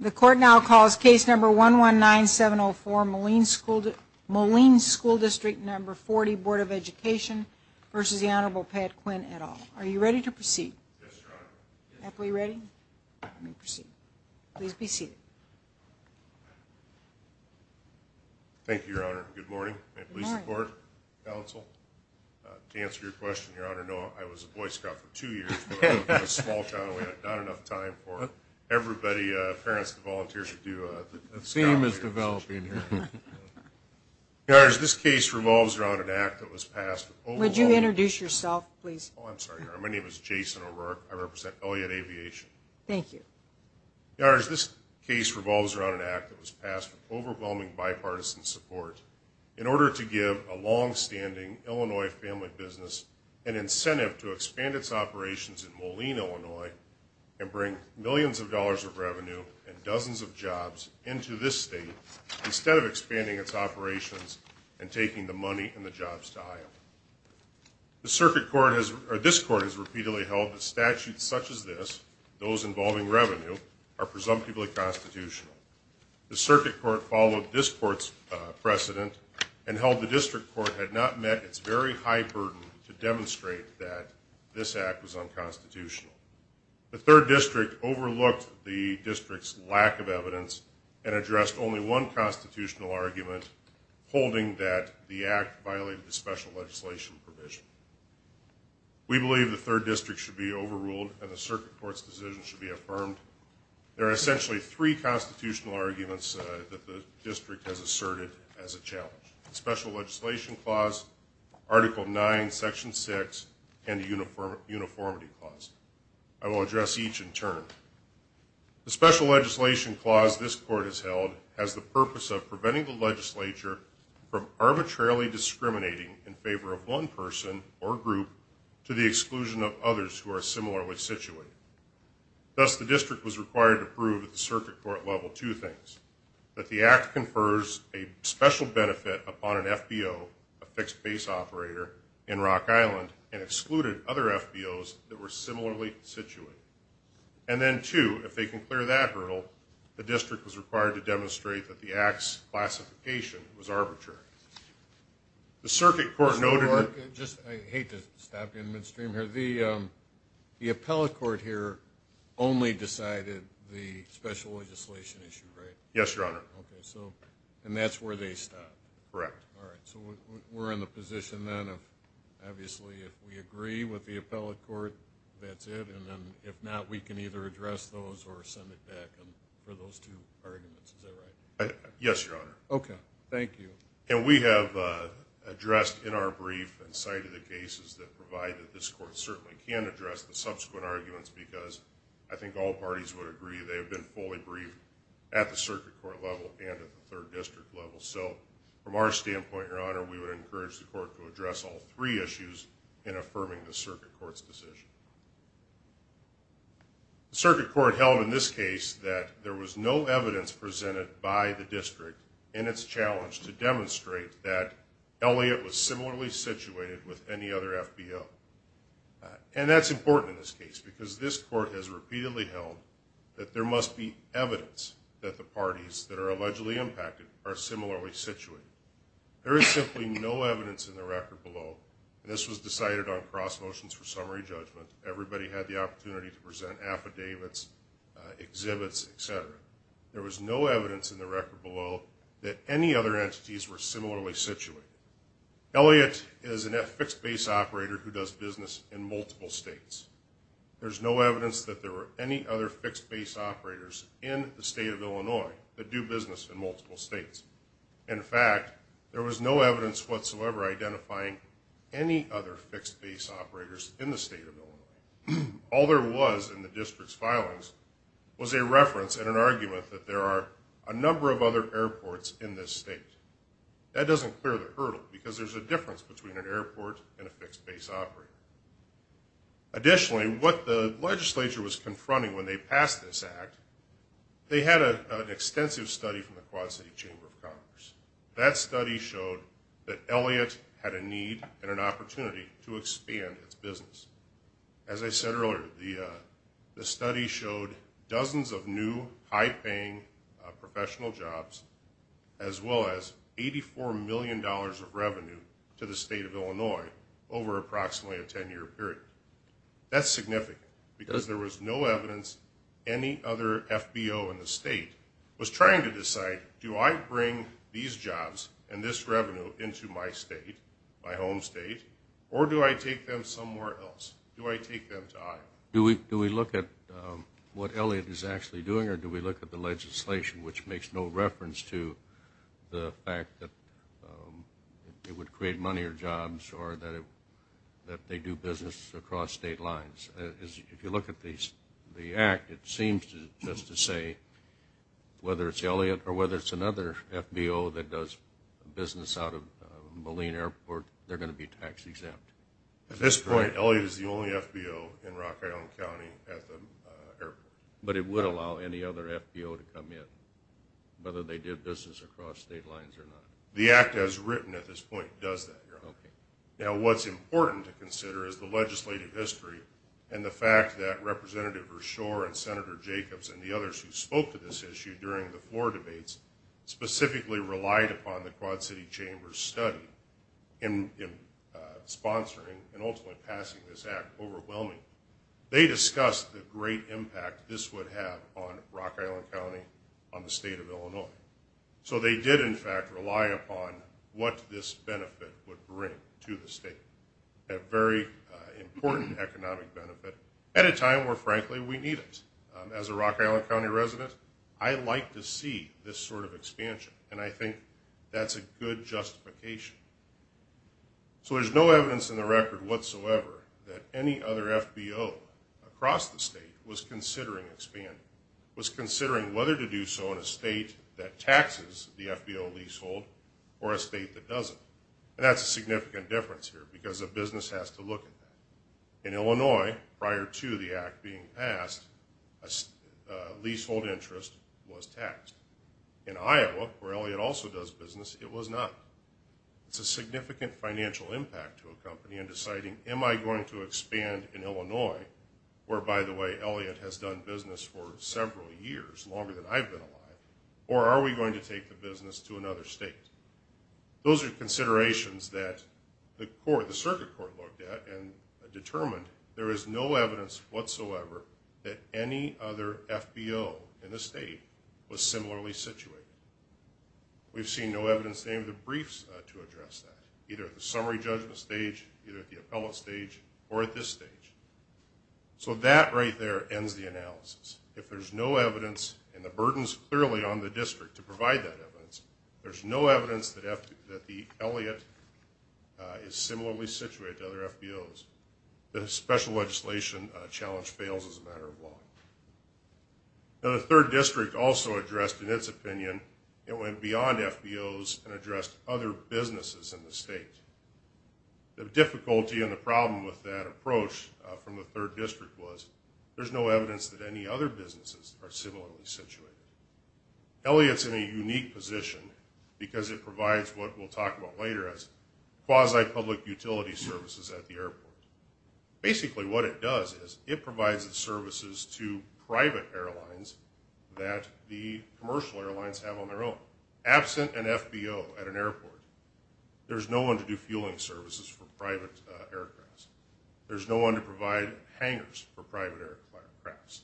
The court now calls case number 119704 Moline School District No. 40 Board of Education v. the Hon. Pat Quinn, et al. Are you ready to proceed? Yes, Your Honor. Are we ready? Let me proceed. Please be seated. Thank you, Your Honor. Good morning. Good morning. I'm Lisa Court, counsel. To answer your question, Your Honor, no, I was a boy scout for two years. I was a small child and we had not enough time for everybody, parents, the volunteers to do the scouting. The theme is developing here. Your Honor, this case revolves around an act that was passed with overwhelming... Would you introduce yourself, please? Oh, I'm sorry, Your Honor. My name is Jason O'Rourke. I represent Elliott Aviation. Thank you. Your Honor, this case revolves around an act that was passed with overwhelming bipartisan support in order to give a long-standing Illinois family business an incentive to expand its operations in Moline, Illinois and bring millions of dollars of revenue and dozens of jobs into this state instead of expanding its operations and taking the money and the jobs to Iowa. This court has repeatedly held that statutes such as this, those involving revenue, are presumptively constitutional. The circuit court followed this court's precedent and held the district court had not met its very high burden to demonstrate that this act was unconstitutional. The third district overlooked the district's lack of evidence and addressed only one constitutional argument holding that the act violated the special legislation provision. We believe the third district should be overruled and the circuit court's decision should be affirmed. There are essentially three constitutional arguments that the district has asserted as a challenge. The Special Legislation Clause, Article 9, Section 6, and the Uniformity Clause. I will address each in turn. The Special Legislation Clause this court has held has the purpose of preventing the legislature from arbitrarily discriminating in favor of one person or group to the exclusion of others who are similarly situated. Thus, the district was required to prove at the circuit court level two things. That the act confers a special benefit upon an FBO, a fixed base operator, in Rock Island and excluded other FBOs that were similarly situated. And then two, if they can clear that hurdle, the district was required to demonstrate that the act's classification was arbitrary. The circuit court noted... I hate to stop you in midstream here. The appellate court here only decided the special legislation issue, right? Yes, Your Honor. Okay, so, and that's where they stop? Correct. All right, so we're in the position then of obviously if we agree with the appellate court, that's it. And then if not, we can either address those or send it back for those two arguments, is that right? Yes, Your Honor. Okay, thank you. And we have addressed in our brief and cited the cases that provide that this court certainly can address the subsequent arguments because I think all parties would agree they have been fully briefed at the circuit court level and at the third district level. So, from our standpoint, Your Honor, we would encourage the court to address all three issues in affirming the circuit court's decision. The circuit court held in this case that there was no evidence presented by the district in its challenge to demonstrate that Elliott was similarly situated with any other FBO. And that's important in this case because this court has repeatedly held that there must be evidence that the parties that are allegedly impacted are similarly situated. There is simply no evidence in the record below, and this was decided on cross motions for summary judgment. Everybody had the opportunity to present affidavits, exhibits, et cetera. There was no evidence in the record below that any other entities were similarly situated. Elliott is a fixed base operator who does business in multiple states. There's no evidence that there were any other fixed base operators in the state of Illinois that do business in multiple states. In fact, there was no evidence whatsoever identifying any other fixed base operators in the state of Illinois. All there was in the district's filings was a reference and an argument that there are a number of other airports in this state. That doesn't clear the hurdle because there's a difference between an airport and a fixed base operator. Additionally, what the legislature was confronting when they passed this act, they had an extensive study from the Quad City Chamber of Commerce. That study showed that Elliott had a need and an opportunity to expand its business. As I said earlier, the study showed dozens of new high-paying professional jobs as well as $84 million of revenue to the state of Illinois over approximately a 10-year period. That's significant because there was no evidence any other FBO in the state was trying to decide, do I bring these jobs and this revenue into my state, my home state, or do I take them somewhere else? Do I take them to Iowa? Do we look at what Elliott is actually doing or do we look at the legislation, which makes no reference to the fact that it would create money or jobs or that they do business across state lines? If you look at the act, it seems just to say whether it's Elliott or whether it's another FBO that does business out of Moline Airport, they're going to be tax-exempt. At this point, Elliott is the only FBO in Rock Island County at the airport. But it would allow any other FBO to come in, whether they did business across state lines or not. The act as written at this point does that, Your Honor. Now, what's important to consider is the legislative history and the fact that Representative Verschoor and Senator Jacobs and the others who spoke to this issue during the floor debates specifically relied upon the Quad City Chamber's study in sponsoring and ultimately passing this act overwhelmingly. They discussed the great impact this would have on Rock Island County, on the state of Illinois. So they did, in fact, rely upon what this benefit would bring to the state. A very important economic benefit at a time where, frankly, we need it. As a Rock Island County resident, I like to see this sort of expansion. And I think that's a good justification. So there's no evidence in the record whatsoever that any other FBO across the state was considering expanding, was considering whether to do so in a state that taxes the FBO leasehold or a state that doesn't. And that's a significant difference here because a business has to look at that. In Illinois, prior to the act being passed, a leasehold interest was taxed. In Iowa, where Elliott also does business, it was not. It's a significant financial impact to a company in deciding, am I going to expand in Illinois, where, by the way, Elliott has done business for several years, longer than I've been alive, or are we going to take the business to another state? Those are considerations that the circuit court looked at and determined there is no evidence whatsoever that any other FBO in the state was similarly situated. We've seen no evidence in any of the briefs to address that, either at the summary judgment stage, either at the appellate stage, or at this stage. So that right there ends the analysis. If there's no evidence, and the burden's clearly on the district to provide that evidence, there's no evidence that the Elliott is similarly situated to other FBOs. The special legislation challenge fails as a matter of law. The third district also addressed, in its opinion, it went beyond FBOs and addressed other businesses in the state. The difficulty and the problem with that approach from the third district was there's no evidence that any other businesses are similarly situated. Elliott's in a unique position because it provides what we'll talk about later as quasi-public utility services at the airport. Basically what it does is it provides the services to private airlines that the commercial airlines have on their own. Absent an FBO at an airport, there's no one to do fueling services for private aircrafts. There's no one to provide hangers for private aircrafts,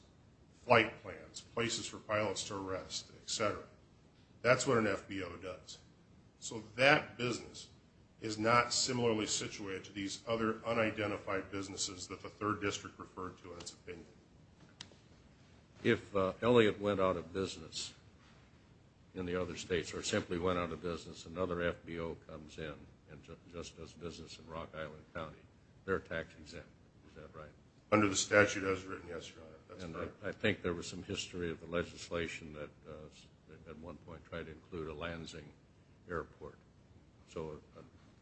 flight plans, places for pilots to rest, et cetera. That's what an FBO does. So that business is not similarly situated to these other unidentified businesses that the third district referred to in its opinion. If Elliott went out of business in the other states or simply went out of business, another FBO comes in and just does business in Rock Island County. They're tax exempt, is that right? Under the statute as written, yes, Your Honor. I think there was some history of the legislation that at one point tried to include a Lansing airport. So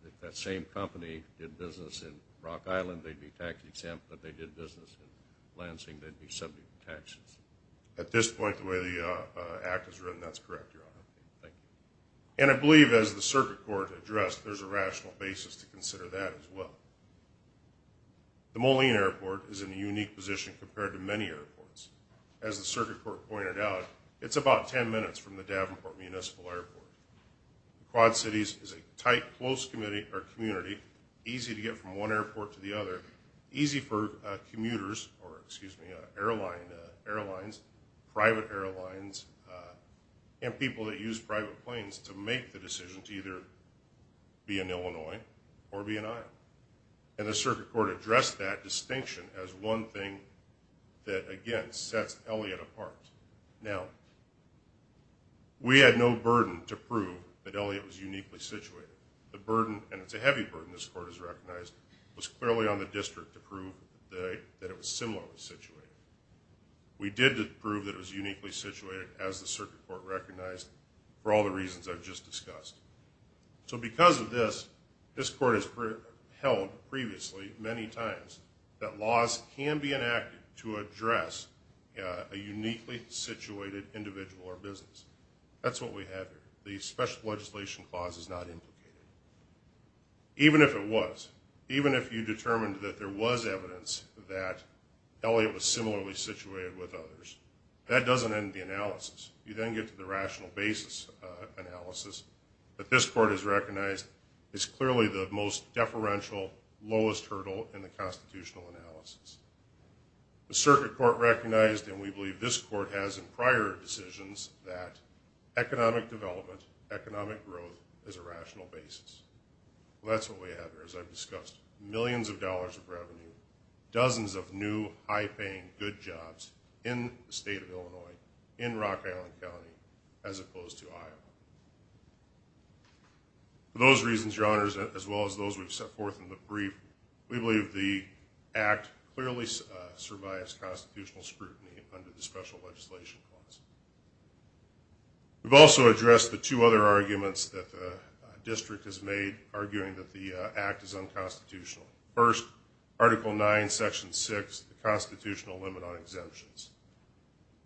if that same company did business in Rock Island, they'd be tax exempt, but if they did business in Lansing, they'd be subject to taxes. At this point, the way the act is written, that's correct, Your Honor. Thank you. And I believe as the circuit court addressed, there's a rational basis to consider that as well. The Moline Airport is in a unique position compared to many airports. As the circuit court pointed out, it's about 10 minutes from the Davenport Municipal Airport. Quad Cities is a tight, close community, easy to get from one airport to the other, easy for commuters or, excuse me, airlines, private airlines, and people that use private planes to make the decision to either be in Illinois or be in Iowa. Now, we had no burden to prove that Elliott was uniquely situated. The burden, and it's a heavy burden this court has recognized, was clearly on the district to prove that it was similarly situated. We did prove that it was uniquely situated, as the circuit court recognized, for all the reasons I've just discussed. So because of this, this court has held previously many times that laws can be enacted to address a uniquely situated individual or business. That's what we have here. The special legislation clause is not implicated. Even if it was, even if you determined that there was evidence that Elliott was similarly situated with others, that doesn't end the analysis. You then get to the rational basis analysis that this court has recognized is clearly the most deferential, lowest hurdle in the constitutional analysis. The circuit court recognized, and we believe this court has in prior decisions, that economic development, economic growth is a rational basis. That's what we have here, as I've discussed. Millions of dollars of revenue, dozens of new, high-paying, good jobs in the state of Illinois, in Rock Island County, as opposed to Iowa. For those reasons, Your Honors, as well as those we've set forth in the brief, we believe the Act clearly survives constitutional scrutiny under the special legislation clause. We've also addressed the two other arguments that the district has made, arguing that the Act is unconstitutional. First, Article 9, Section 6, the constitutional limit on exemptions.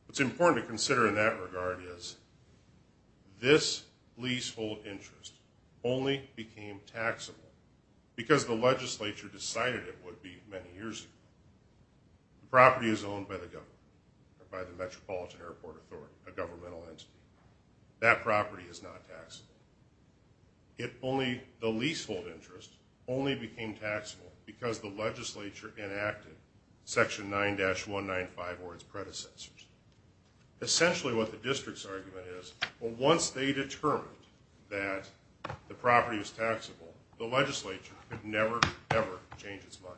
What's important to consider in that regard is this leasehold interest only became taxable because the legislature decided it would be many years ago. The property is owned by the government, by the Metropolitan Airport Authority, a governmental entity. That property is not taxable. The leasehold interest only became taxable because the legislature enacted Section 9-195 or its predecessors. Essentially, what the district's argument is, once they determined that the property was taxable, the legislature could never, ever change its mind.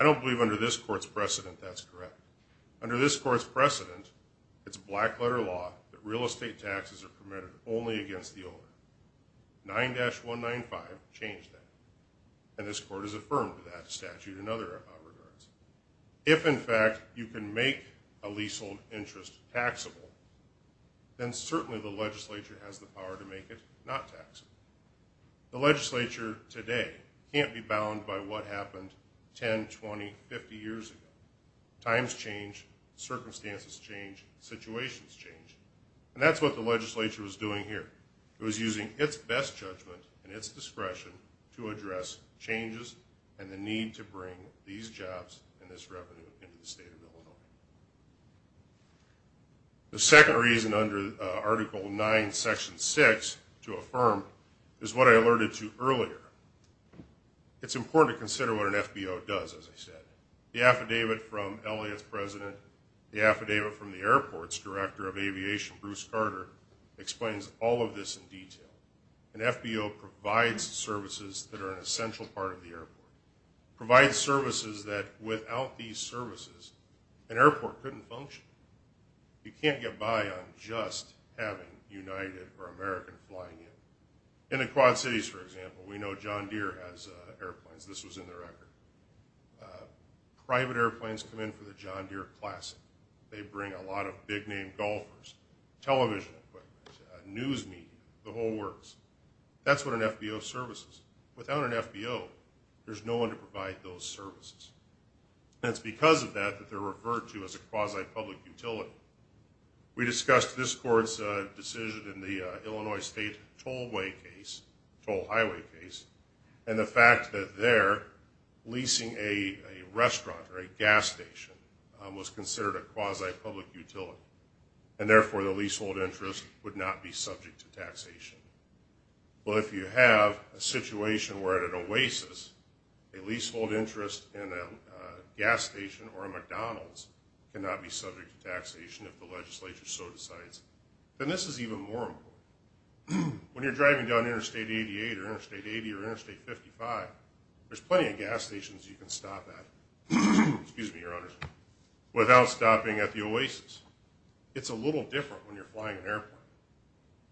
I don't believe under this court's precedent that's correct. Under this court's precedent, it's a black-letter law that real estate taxes are permitted only against the owner. 9-195 changed that. And this court has affirmed that statute in other regards. If, in fact, you can make a leasehold interest taxable, then certainly the legislature has the power to make it not taxable. The legislature today can't be bound by what happened 10, 20, 50 years ago. Times change. Circumstances change. Situations change. And that's what the legislature was doing here. It was using its best judgment and its discretion to address changes and the need to bring these jobs and this revenue into the state of Illinois. The second reason under Article 9, Section 6 to affirm is what I alerted to earlier. It's important to consider what an FBO does, as I said. The affidavit from Elliott's president, the affidavit from the airport's director of aviation, Bruce Carter, explains all of this in detail. An FBO provides services that are an essential part of the airport, provides services that, without these services, an airport couldn't function. You can't get by on just having United or American flying in. In the Quad Cities, for example, we know John Deere has airplanes. This was in the record. Private airplanes come in for the John Deere Classic. They bring a lot of big-name golfers, television equipment, news media, the whole works. That's what an FBO services. Without an FBO, there's no one to provide those services. And it's because of that that they're referred to as a quasi-public utility. We discussed this court's decision in the Illinois State tollway case, toll highway case, and the fact that there, leasing a restaurant or a gas station was considered a quasi-public utility, and, therefore, the leasehold interest would not be subject to taxation. Well, if you have a situation where at an oasis a leasehold interest in a gas station or a McDonald's cannot be subject to taxation, if the legislature so decides, then this is even more important. When you're driving down Interstate 88 or Interstate 80 or Interstate 55, there's plenty of gas stations you can stop at without stopping at the oasis. It's a little different when you're flying an airplane.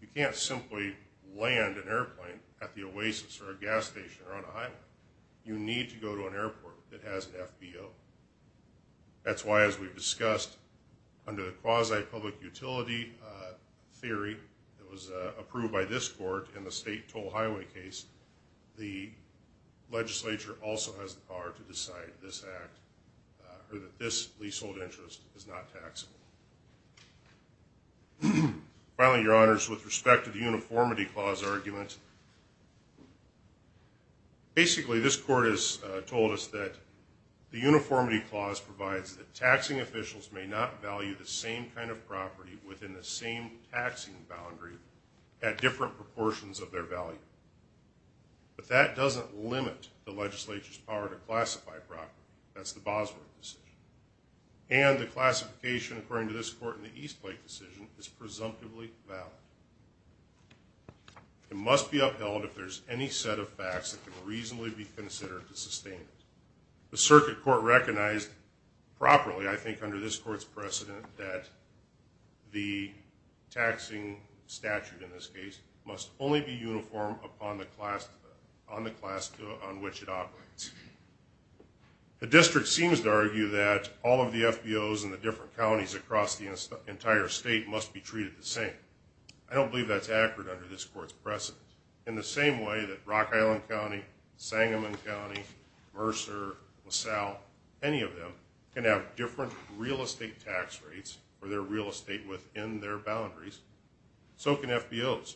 You can't simply land an airplane at the oasis or a gas station or on a highway. You need to go to an airport that has an FBO. That's why, as we've discussed, under the quasi-public utility theory that was legislature also has the power to decide this leasehold interest is not taxable. Finally, Your Honors, with respect to the uniformity clause argument, basically this court has told us that the uniformity clause provides that taxing officials may not value the same kind of property within the same taxing boundary at different proportions of their value. But that doesn't limit the legislature's power to classify property. That's the Bosworth decision. And the classification, according to this court in the Eastlake decision, is presumptively valid. It must be upheld if there's any set of facts that can reasonably be considered to sustain it. The circuit court recognized properly, I think under this court's precedent, that the taxing statute in this case must only be uniform on the class on which it operates. The district seems to argue that all of the FBOs in the different counties across the entire state must be treated the same. I don't believe that's accurate under this court's precedent. In the same way that Rock Island County, Sangamon County, Mercer, LaSalle, any of them can have different real estate tax rates for their real estate within their boundaries, so can FBOs.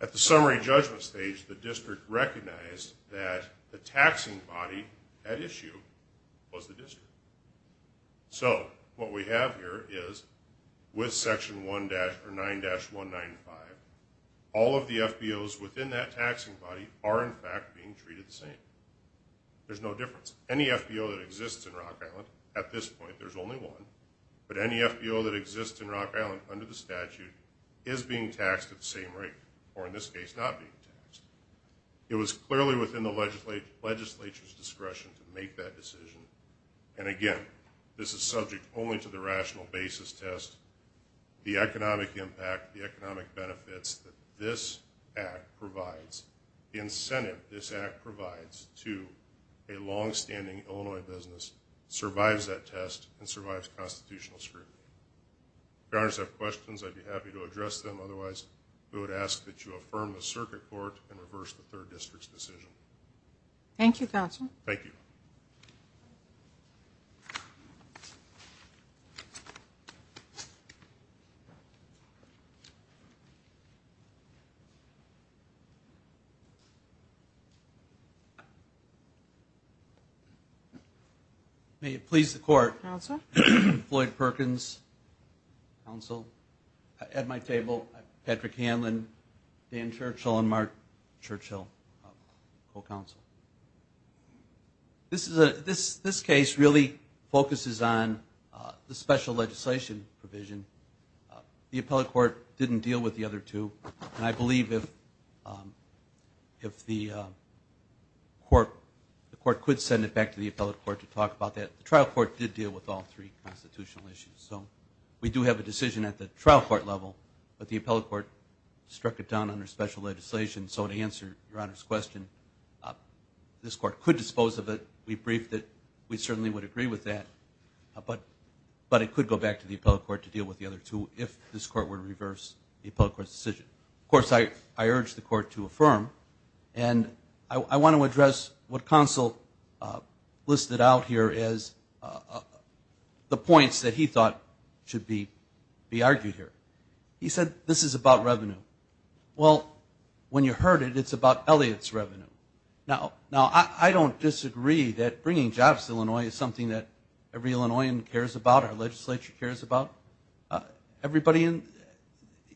At the summary judgment stage, the district recognized that the taxing body at issue was the district. So what we have here is with Section 9-195, all of the FBOs within that taxing body are, in fact, being treated the same. There's no difference. Any FBO that exists in Rock Island at this point, there's only one, but any FBO that exists in Rock Island under the statute is being taxed at the same rate, or in this case, not being taxed. It was clearly within the legislature's discretion to make that decision. And again, this is subject only to the rational basis test, the economic impact, the economic benefits that this act provides, the incentive this act provides to a longstanding Illinois business survives that test and survives constitutional scrutiny. If you have questions, I'd be happy to address them. Otherwise, we would ask that you affirm the circuit court and reverse the third district's decision. Thank you, Counselor. Thank you. Thank you. May it please the Court. Counsel. Floyd Perkins, Counsel. At my table, Patrick Hanlon, Dan Churchill, and Mark Churchill, Co-Counsel. This case really focuses on the special legislation provision. The appellate court didn't deal with the other two, and I believe if the court could send it back to the appellate court to talk about that. The trial court did deal with all three constitutional issues. So we do have a decision at the trial court level, but the appellate court struck it down under special legislation. So to answer Your Honor's question, this court could dispose of it. We briefed it. We certainly would agree with that. But it could go back to the appellate court to deal with the other two if this court were to reverse the appellate court's decision. Of course, I urge the court to affirm. And I want to address what Counsel listed out here as the points that he thought should be argued here. He said this is about revenue. Well, when you heard it, it's about Elliott's revenue. Now, I don't disagree that bringing jobs to Illinois is something that every Illinoisan cares about, our legislature cares about.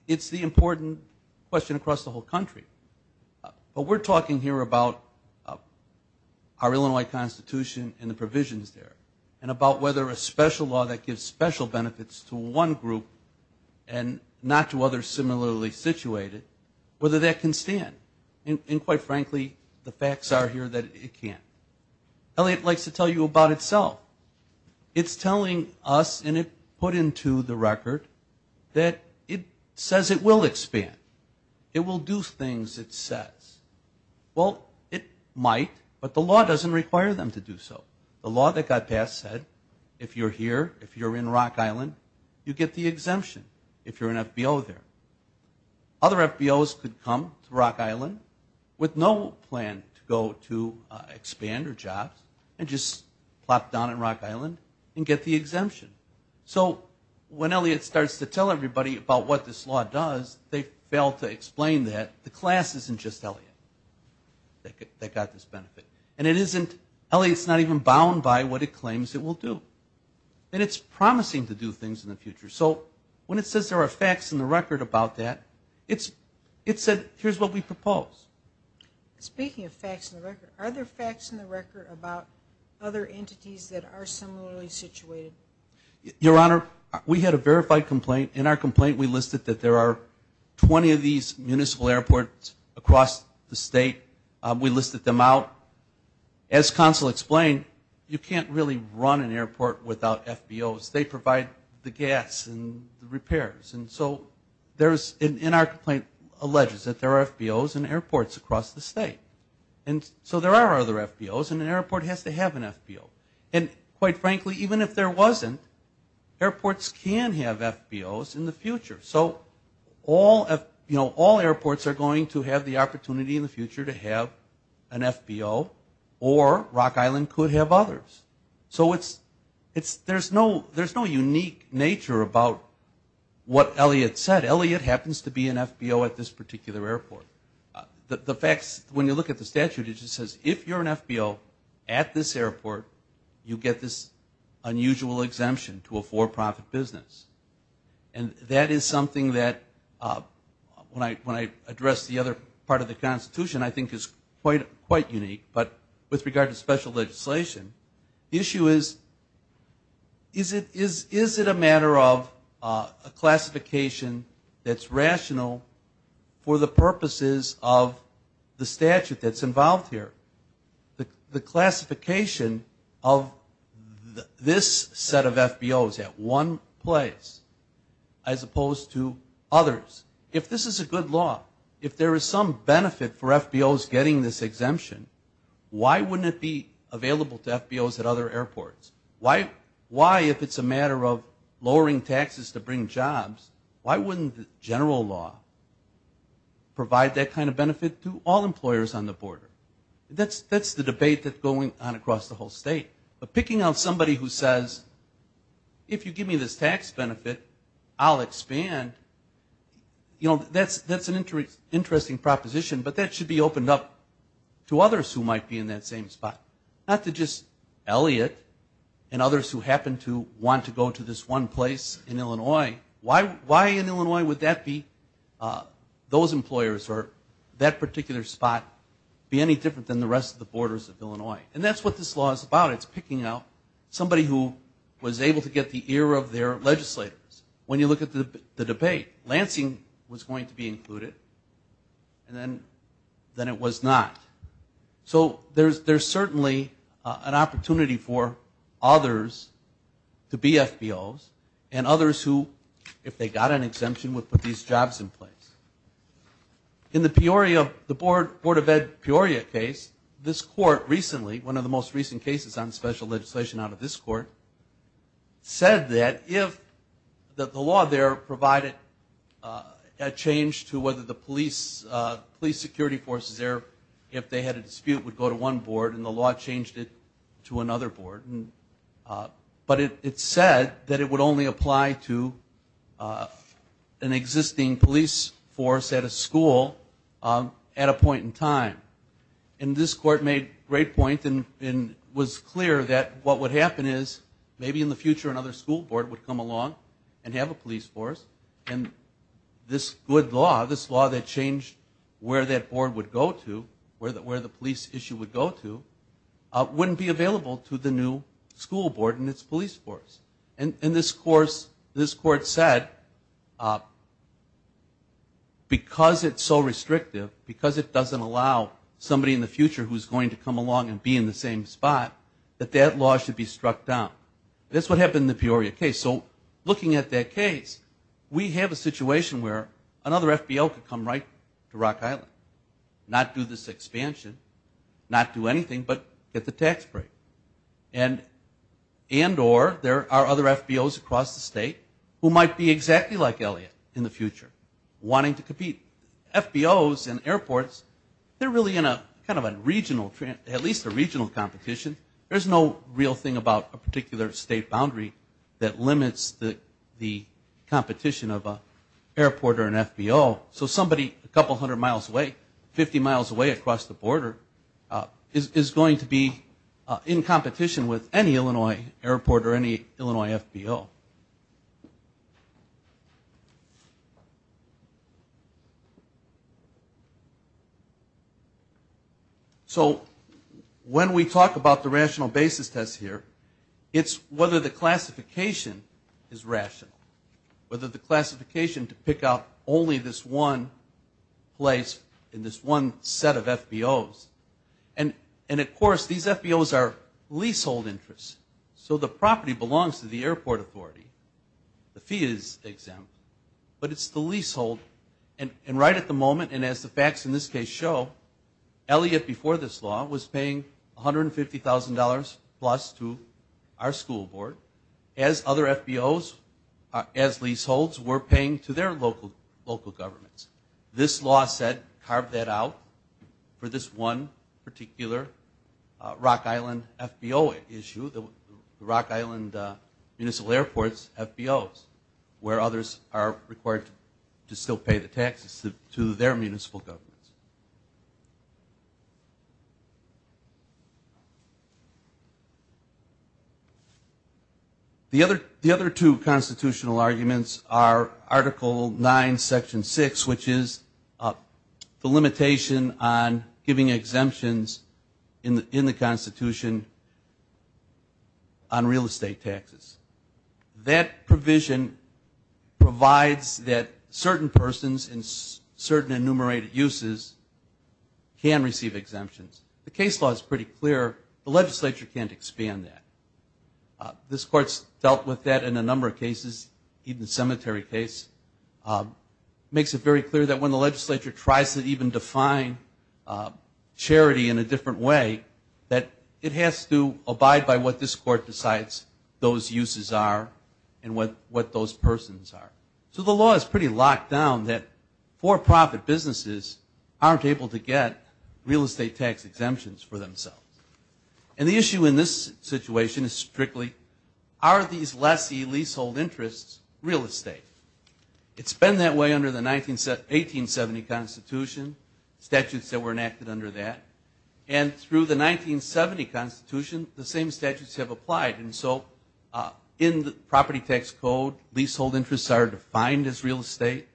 It's the important question across the whole country. But we're talking here about our Illinois Constitution and the provisions there and about whether a special law that gives special benefits to one group and not to others similarly situated, whether that can stand. And quite frankly, the facts are here that it can't. Elliott likes to tell you about itself. It's telling us, and it put into the record, that it says it will expand. It will do things it says. Well, it might, but the law doesn't require them to do so. The law that got passed said if you're here, if you're in Rock Island, you get the exemption if you're an FBO there. Other FBOs could come to Rock Island with no plan to go to expand or jobs and just plop down in Rock Island and get the exemption. So when Elliott starts to tell everybody about what this law does, they fail to explain that the class isn't just Elliott that got this benefit. And it isn't, Elliott's not even bound by what it claims it will do. And it's promising to do things in the future. So when it says there are facts in the record about that, it said here's what we propose. Speaking of facts in the record, are there facts in the record about other entities that are similarly situated? Your Honor, we had a verified complaint. In our complaint we listed that there are 20 of these municipal airports across the state. We listed them out. As counsel explained, you can't really run an airport without FBOs. They provide the gas and the repairs. And so there's in our complaint alleges that there are FBOs in airports across the state. And so there are other FBOs and an airport has to have an FBO. And quite frankly, even if there wasn't, airports can have FBOs in the future. So all airports are going to have the opportunity in the future to have an FBO or Rock Island could have others. So there's no unique nature about what Elliot said. Elliot happens to be an FBO at this particular airport. The facts, when you look at the statute, it just says if you're an FBO at this airport, you get this unusual exemption to a for-profit business. And that is something that when I address the other part of the Constitution, I think is quite unique. But with regard to special legislation, the issue is, is it a matter of a classification that's rational for the purposes of the statute that's involved here? The classification of this set of FBOs at one place as opposed to others, if this is a good law, if there is some benefit for FBOs getting this exemption, why wouldn't it be available to FBOs at other airports? Why, if it's a matter of lowering taxes to bring jobs, why wouldn't the general law provide that kind of benefit to all employers on the border? That's the debate that's going on across the whole state. But picking out somebody who says, if you give me this tax benefit, I'll expand, you know, that's an interesting proposition, but that should be opened up to others who might be in that same spot, not to just Elliott and others who happen to want to go to this one place in Illinois. Why in Illinois would that be, those employers or that particular spot, be any different than the rest of the borders of Illinois? And that's what this law is about. It's picking out somebody who was able to get the ear of their legislators. When you look at the debate, Lansing was going to be included, and then it was not. So there's certainly an opportunity for others to be FBOs, and others who, if they got an exemption, would put these jobs in place. In the Peoria, the Board of Ed Peoria case, this court recently, one of the most recent cases on special legislation out of this court, said that if the law there provided a change to whether the police security forces there, if they had a dispute, would go to one board, and the law changed it to another board. But it said that it would only apply to an existing police force at a school at a point in time. And this court made a great point and was clear that what would happen is, maybe in the future another school board would come along and have a police force, and this good law, this law that changed where that board would go to, where the police issue would go to, wouldn't be available to the new school board and its police force. And this court said, because it's so restrictive, because it doesn't allow somebody in the future who's going to come along and be in the same spot, that that law should be struck down. That's what happened in the Peoria case. So looking at that case, we have a situation where another FBO could come right to Rock Island, not do this expansion, not do anything, but get the tax break. And or there are other FBOs across the state who might be exactly like Elliot in the future, wanting to compete. FBOs and airports, they're really in a kind of a regional, at least a regional competition. There's no real thing about a particular state boundary that limits the competition of an airport or an FBO. So somebody a couple hundred miles away, 50 miles away across the border, is going to be in competition with any Illinois airport or any Illinois FBO. So when we talk about the rational basis test here, it's whether the classification is rational, whether the classification to pick out only this one place in this one set of FBOs. And of course, these FBOs are leasehold interests. So the property belongs to the airport authority. The fee is exempt. But it's the leasehold. And right at the moment, and as the facts in this case show, Elliot before this law was paying $150,000-plus to our school board. As other FBOs, as leaseholds, were paying to their local governments. This law said carve that out for this one particular Rock Island FBO issue, the Rock Island Municipal Airport's FBOs, where others are required to still pay the taxes to their municipal governments. The other two constitutional arguments are Article 9, Section 6, which is the limitation on giving exemptions in the Constitution on real estate taxes. That provision provides that certain persons in certain enumerated uses can receive exemptions. The case law is pretty clear. The legislature can't expand that. This court's dealt with that in a number of cases, even the cemetery case. Makes it very clear that when the legislature tries to even define charity in a different way, that it has to abide by what this court decides those uses are and what those persons are. So the law is pretty locked down that for-profit businesses aren't able to get real estate tax exemptions for themselves. And the issue in this situation is strictly, are these lessee leasehold interests real estate? It's been that way under the 1870 Constitution, statutes that were enacted under that. And through the 1970 Constitution, the same statutes have applied. And so in the property tax code, leasehold interests are defined as real estate.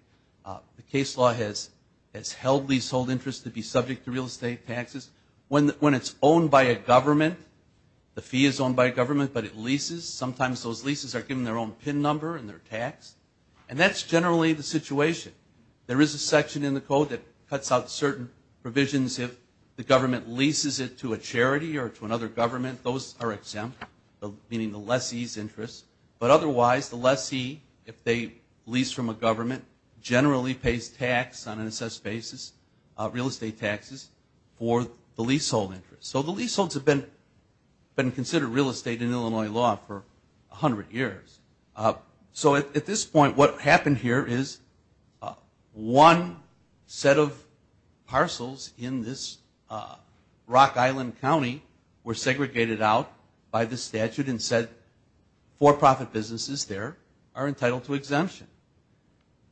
The case law has held leasehold interests to be subject to real estate taxes. When it's owned by a government, the fee is owned by a government, but it leases. Sometimes those leases are given their own PIN number and their tax. And that's generally the situation. There is a section in the code that cuts out certain provisions if the government leases it to a charity or to another government, those are exempt, meaning the lessee's interests. But otherwise, the lessee, if they lease from a government, generally pays tax on an assessed basis, real estate taxes for the leasehold interest. So the leaseholds have been considered real estate in Illinois law for 100 years. So at this point, what happened here is one set of parcels in this Rock Island County were segregated out by the statute and said for-profit businesses there are entitled to exemption.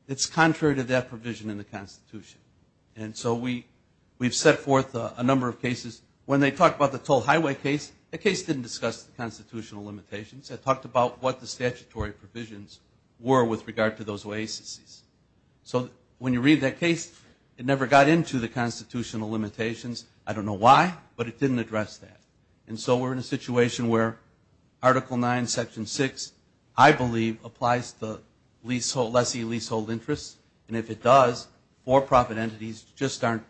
It's contrary to that provision in the Constitution. And so we've set forth a number of cases. When they talked about the Toll Highway case, that case didn't discuss the constitutional limitations. It talked about what the statutory provisions were with regard to those oases. So when you read that case, it never got into the constitutional limitations. I don't know why, but it didn't address that. And so we're in a situation where Article 9, Section 6, I believe, applies to lessee leasehold interests. And if it does, for-profit entities just aren't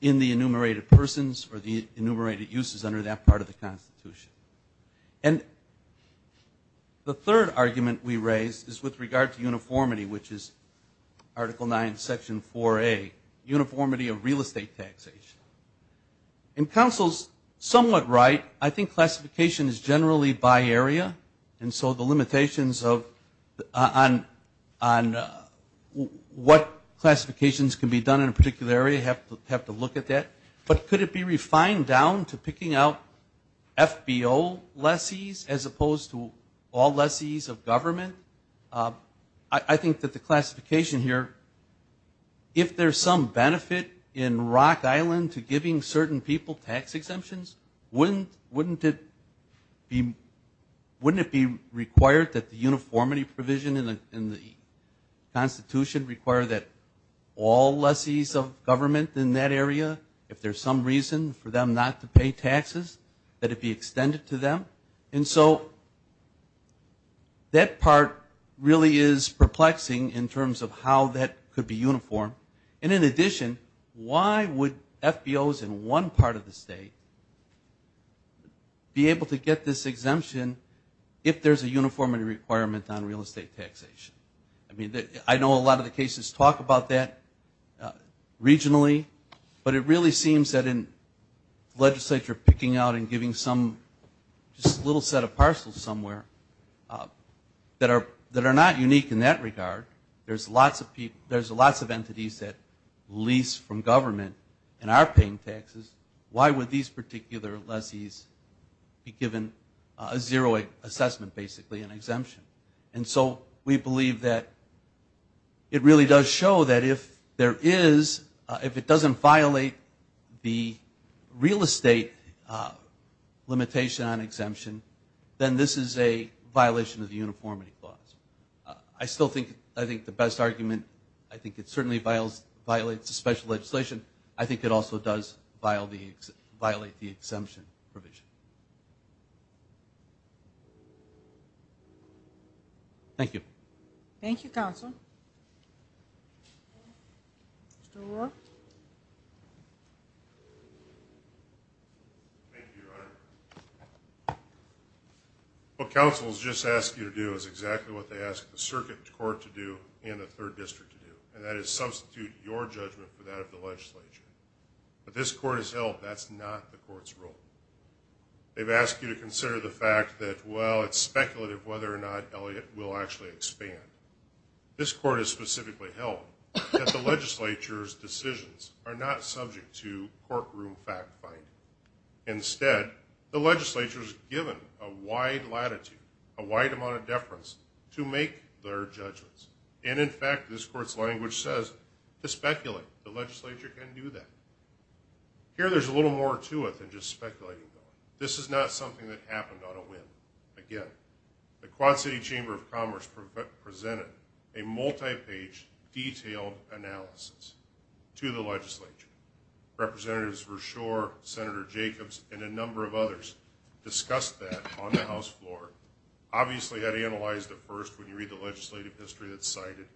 in the enumerated persons or the enumerated uses under that part of the Constitution. And the third argument we raise is with regard to uniformity, which is Article 9, Section 4A, uniformity of real estate taxation. And counsel's somewhat right. I think classification is generally by area. And so the limitations on what classifications can be done in a particular area have to look at that. But could it be refined down to picking out FBO lessees as opposed to all lessees of government? I think that the classification here, if there's some benefit in Rock Island to giving certain people tax exemptions, wouldn't it be required that the uniformity provision in the Constitution require that all lessees of government in that area, if there's some reason for them not to pay taxes, that it be extended to them? And so that part really is perplexing in terms of how that could be uniform. And in addition, why would FBOs in one part of the state be able to get this exemption if there's a uniformity requirement on real estate taxation? I mean, I know a lot of the cases talk about that regionally, but it really seems that in legislature picking out and giving just a little set of parcels somewhere that are not unique in that regard. There's lots of entities that lease from government and are paying taxes. Why would these particular lessees be given a zero assessment, basically, an exemption? And so we believe that it really does show that if there is, if it doesn't violate the real estate limitation on exemption, then this is a violation of the uniformity clause. I still think the best argument, I think it certainly violates the special legislation. I think it also does violate the exemption provision. Thank you. Thank you, Counsel. Mr. O'Rourke. Thank you, Your Honor. What counsels just asked you to do is exactly what they asked the circuit court to do and the third district to do, and that is substitute your judgment for that of the legislature. But this court has held that's not the court's role. They've asked you to consider the fact that, well, it's speculative whether or not Elliott will actually expand. This court has specifically held that the legislature's decisions are not subject to courtroom fact-finding. Instead, the legislature is given a wide latitude, a wide amount of deference to make their judgments. And, in fact, this court's language says to speculate. The legislature can do that. Here there's a little more to it than just speculating. This is not something that happened on a whim. Again, the Quad City Chamber of Commerce presented a multi-page detailed analysis to the legislature. Representatives Verschoor, Senator Jacobs, and a number of others discussed that on the House floor. Obviously, that analyzed at first when you read the legislative history that's cited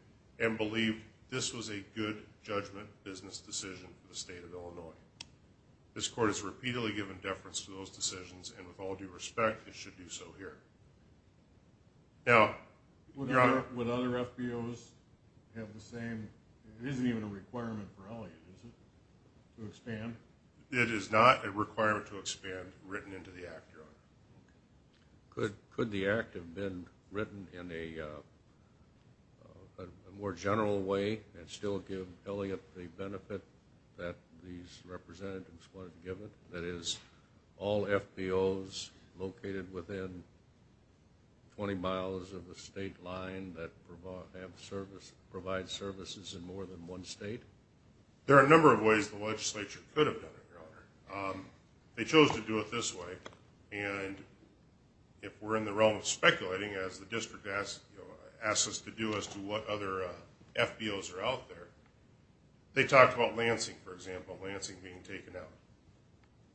and believed this was a good judgment business decision for the state of Illinois. This court has repeatedly given deference to those decisions, and with all due respect, it should do so here. Now, Your Honor. Would other FBOs have the same? It isn't even a requirement for Elliott, is it, to expand? Could the act have been written in a more general way and still give Elliott the benefit that these representatives wanted to give it? That is, all FBOs located within 20 miles of the state line that provide services in more than one state? There are a number of ways the legislature could have done it, Your Honor. They chose to do it this way, and if we're in the realm of speculating, as the district asks us to do as to what other FBOs are out there, they talked about Lansing, for example, Lansing being taken out.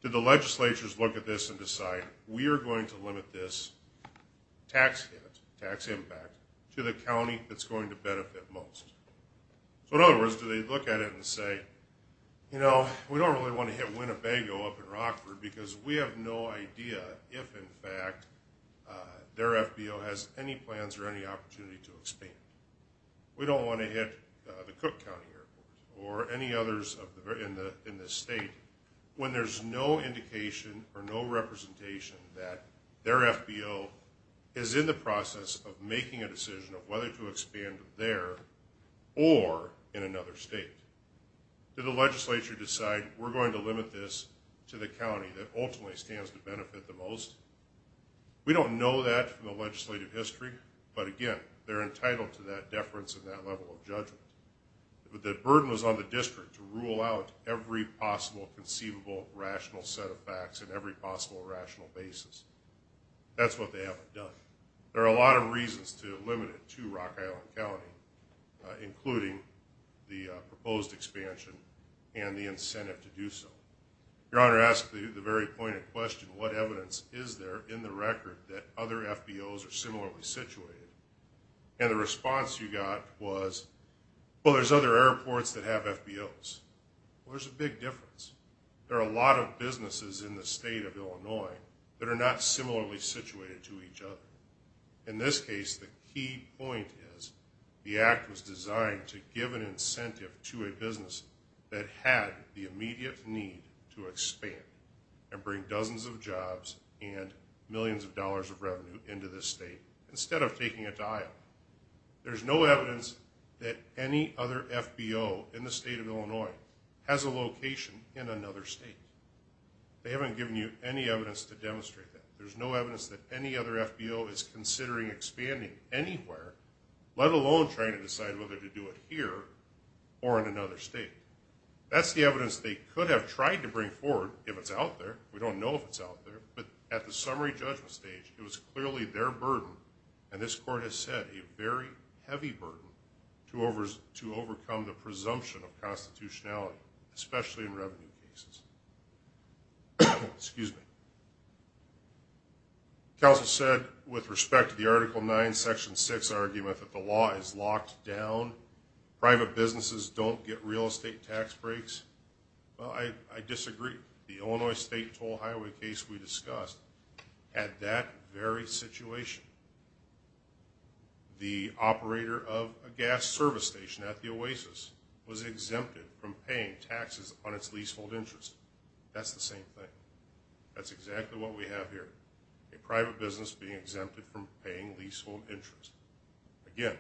Did the legislatures look at this and decide, we are going to limit this tax hit, tax impact, to the county that's going to benefit most? So, in other words, do they look at it and say, you know, we don't really want to hit Winnebago up in Rockford because we have no idea if, in fact, their FBO has any plans or any opportunity to expand. We don't want to hit the Cook County Airport or any others in the state when there's no indication or no representation that their FBO is in the process of making a decision of whether to expand there or in another state. Did the legislature decide, we're going to limit this to the county that ultimately stands to benefit the most? We don't know that from the legislative history, but again, they're entitled to that deference and that level of judgment. The burden was on the district to rule out every possible conceivable rational set of facts and every possible rational basis. That's what they haven't done. There are a lot of reasons to limit it to Rock Island County, including the proposed expansion and the incentive to do so. Your Honor asked the very pointed question, what evidence is there in the record that other FBOs are similarly situated? And the response you got was, well, there's other airports that have FBOs. Well, there's a big difference. There are a lot of businesses in the state of Illinois that are not similarly situated to each other. In this case, the key point is the act was designed to give an incentive to a business that had the immediate need to expand and bring dozens of jobs and millions of dollars of revenue into this state instead of taking it to Iowa. There's no evidence that any other FBO in the state of Illinois has a location in another state. They haven't given you any evidence to demonstrate that. There's no evidence that any other FBO is considering expanding anywhere, let alone trying to decide whether to do it here or in another state. That's the evidence they could have tried to bring forward if it's out there. We don't know if it's out there. But at the summary judgment stage, it was clearly their burden, and this Court has said a very heavy burden, to overcome the presumption of constitutionality, especially in revenue cases. Excuse me. Counsel said with respect to the Article 9, Section 6 argument that the law is locked down, private businesses don't get real estate tax breaks. Well, I disagree. The Illinois State Toll Highway case we discussed had that very situation. The operator of a gas service station at the Oasis was exempted from paying taxes on its leasehold interest. That's the same thing. That's exactly what we have here, a private business being exempted from paying leasehold interest. Again,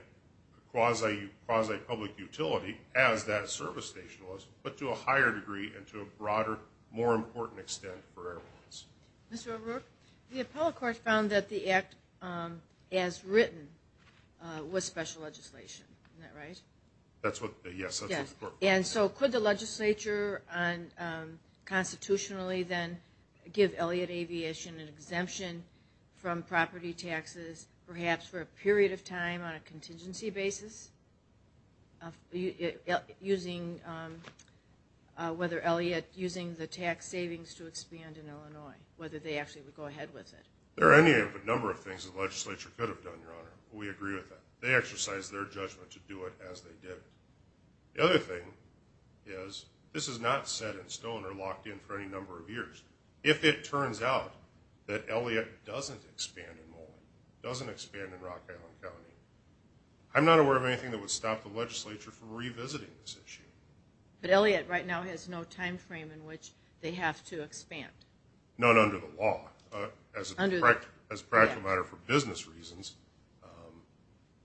quasi-public utility, as that service station was, but to a higher degree and to a broader, more important extent for airlines. Mr. O'Rourke, the appellate court found that the act as written was special legislation. Isn't that right? Yes, that's what the court found. And so could the legislature constitutionally then give Elliott Aviation an exemption from property taxes, perhaps for a period of time on a contingency basis, whether Elliott, using the tax savings to expand in Illinois, whether they actually would go ahead with it? There are any number of things the legislature could have done, Your Honor. We agree with that. They exercised their judgment to do it as they did. The other thing is this is not set in stone or locked in for any number of years. If it turns out that Elliott doesn't expand in Moline, doesn't expand in Rock Island County, I'm not aware of anything that would stop the legislature from revisiting this issue. But Elliott right now has no time frame in which they have to expand. Not under the law. As a practical matter for business reasons,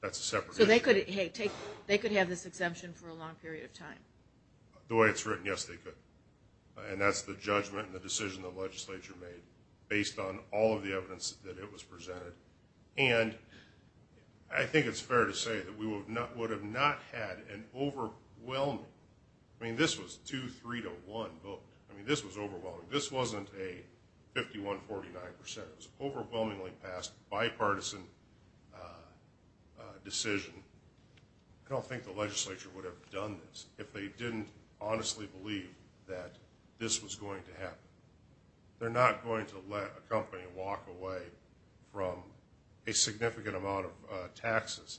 that's a separate issue. So they could have this exemption for a long period of time? The way it's written, yes, they could. And that's the judgment and the decision the legislature made based on all of the evidence that it was presented. And I think it's fair to say that we would have not had an overwhelming, I mean, this was 2-3-1 vote. I mean, this was overwhelming. This wasn't a 51-49%. It was an overwhelmingly passed bipartisan decision. I don't think the legislature would have done this if they didn't honestly believe that this was going to happen. They're not going to let a company walk away from a significant amount of taxes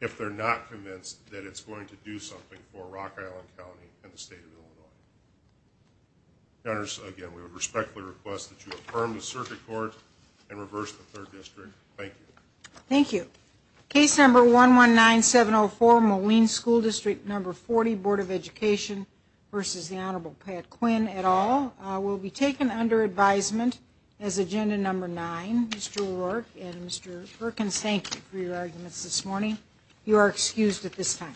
if they're not convinced that it's going to do something for Rock Island County and the state of Illinois. Again, we respectfully request that you affirm the circuit court and reverse the third district. Thank you. Thank you. Case number 119704, Moline School District number 40, Board of Education versus the Honorable Pat Quinn et al. will be taken under advisement as agenda number nine. Mr. O'Rourke and Mr. Perkins, thank you for your arguments this morning. You are excused at this time.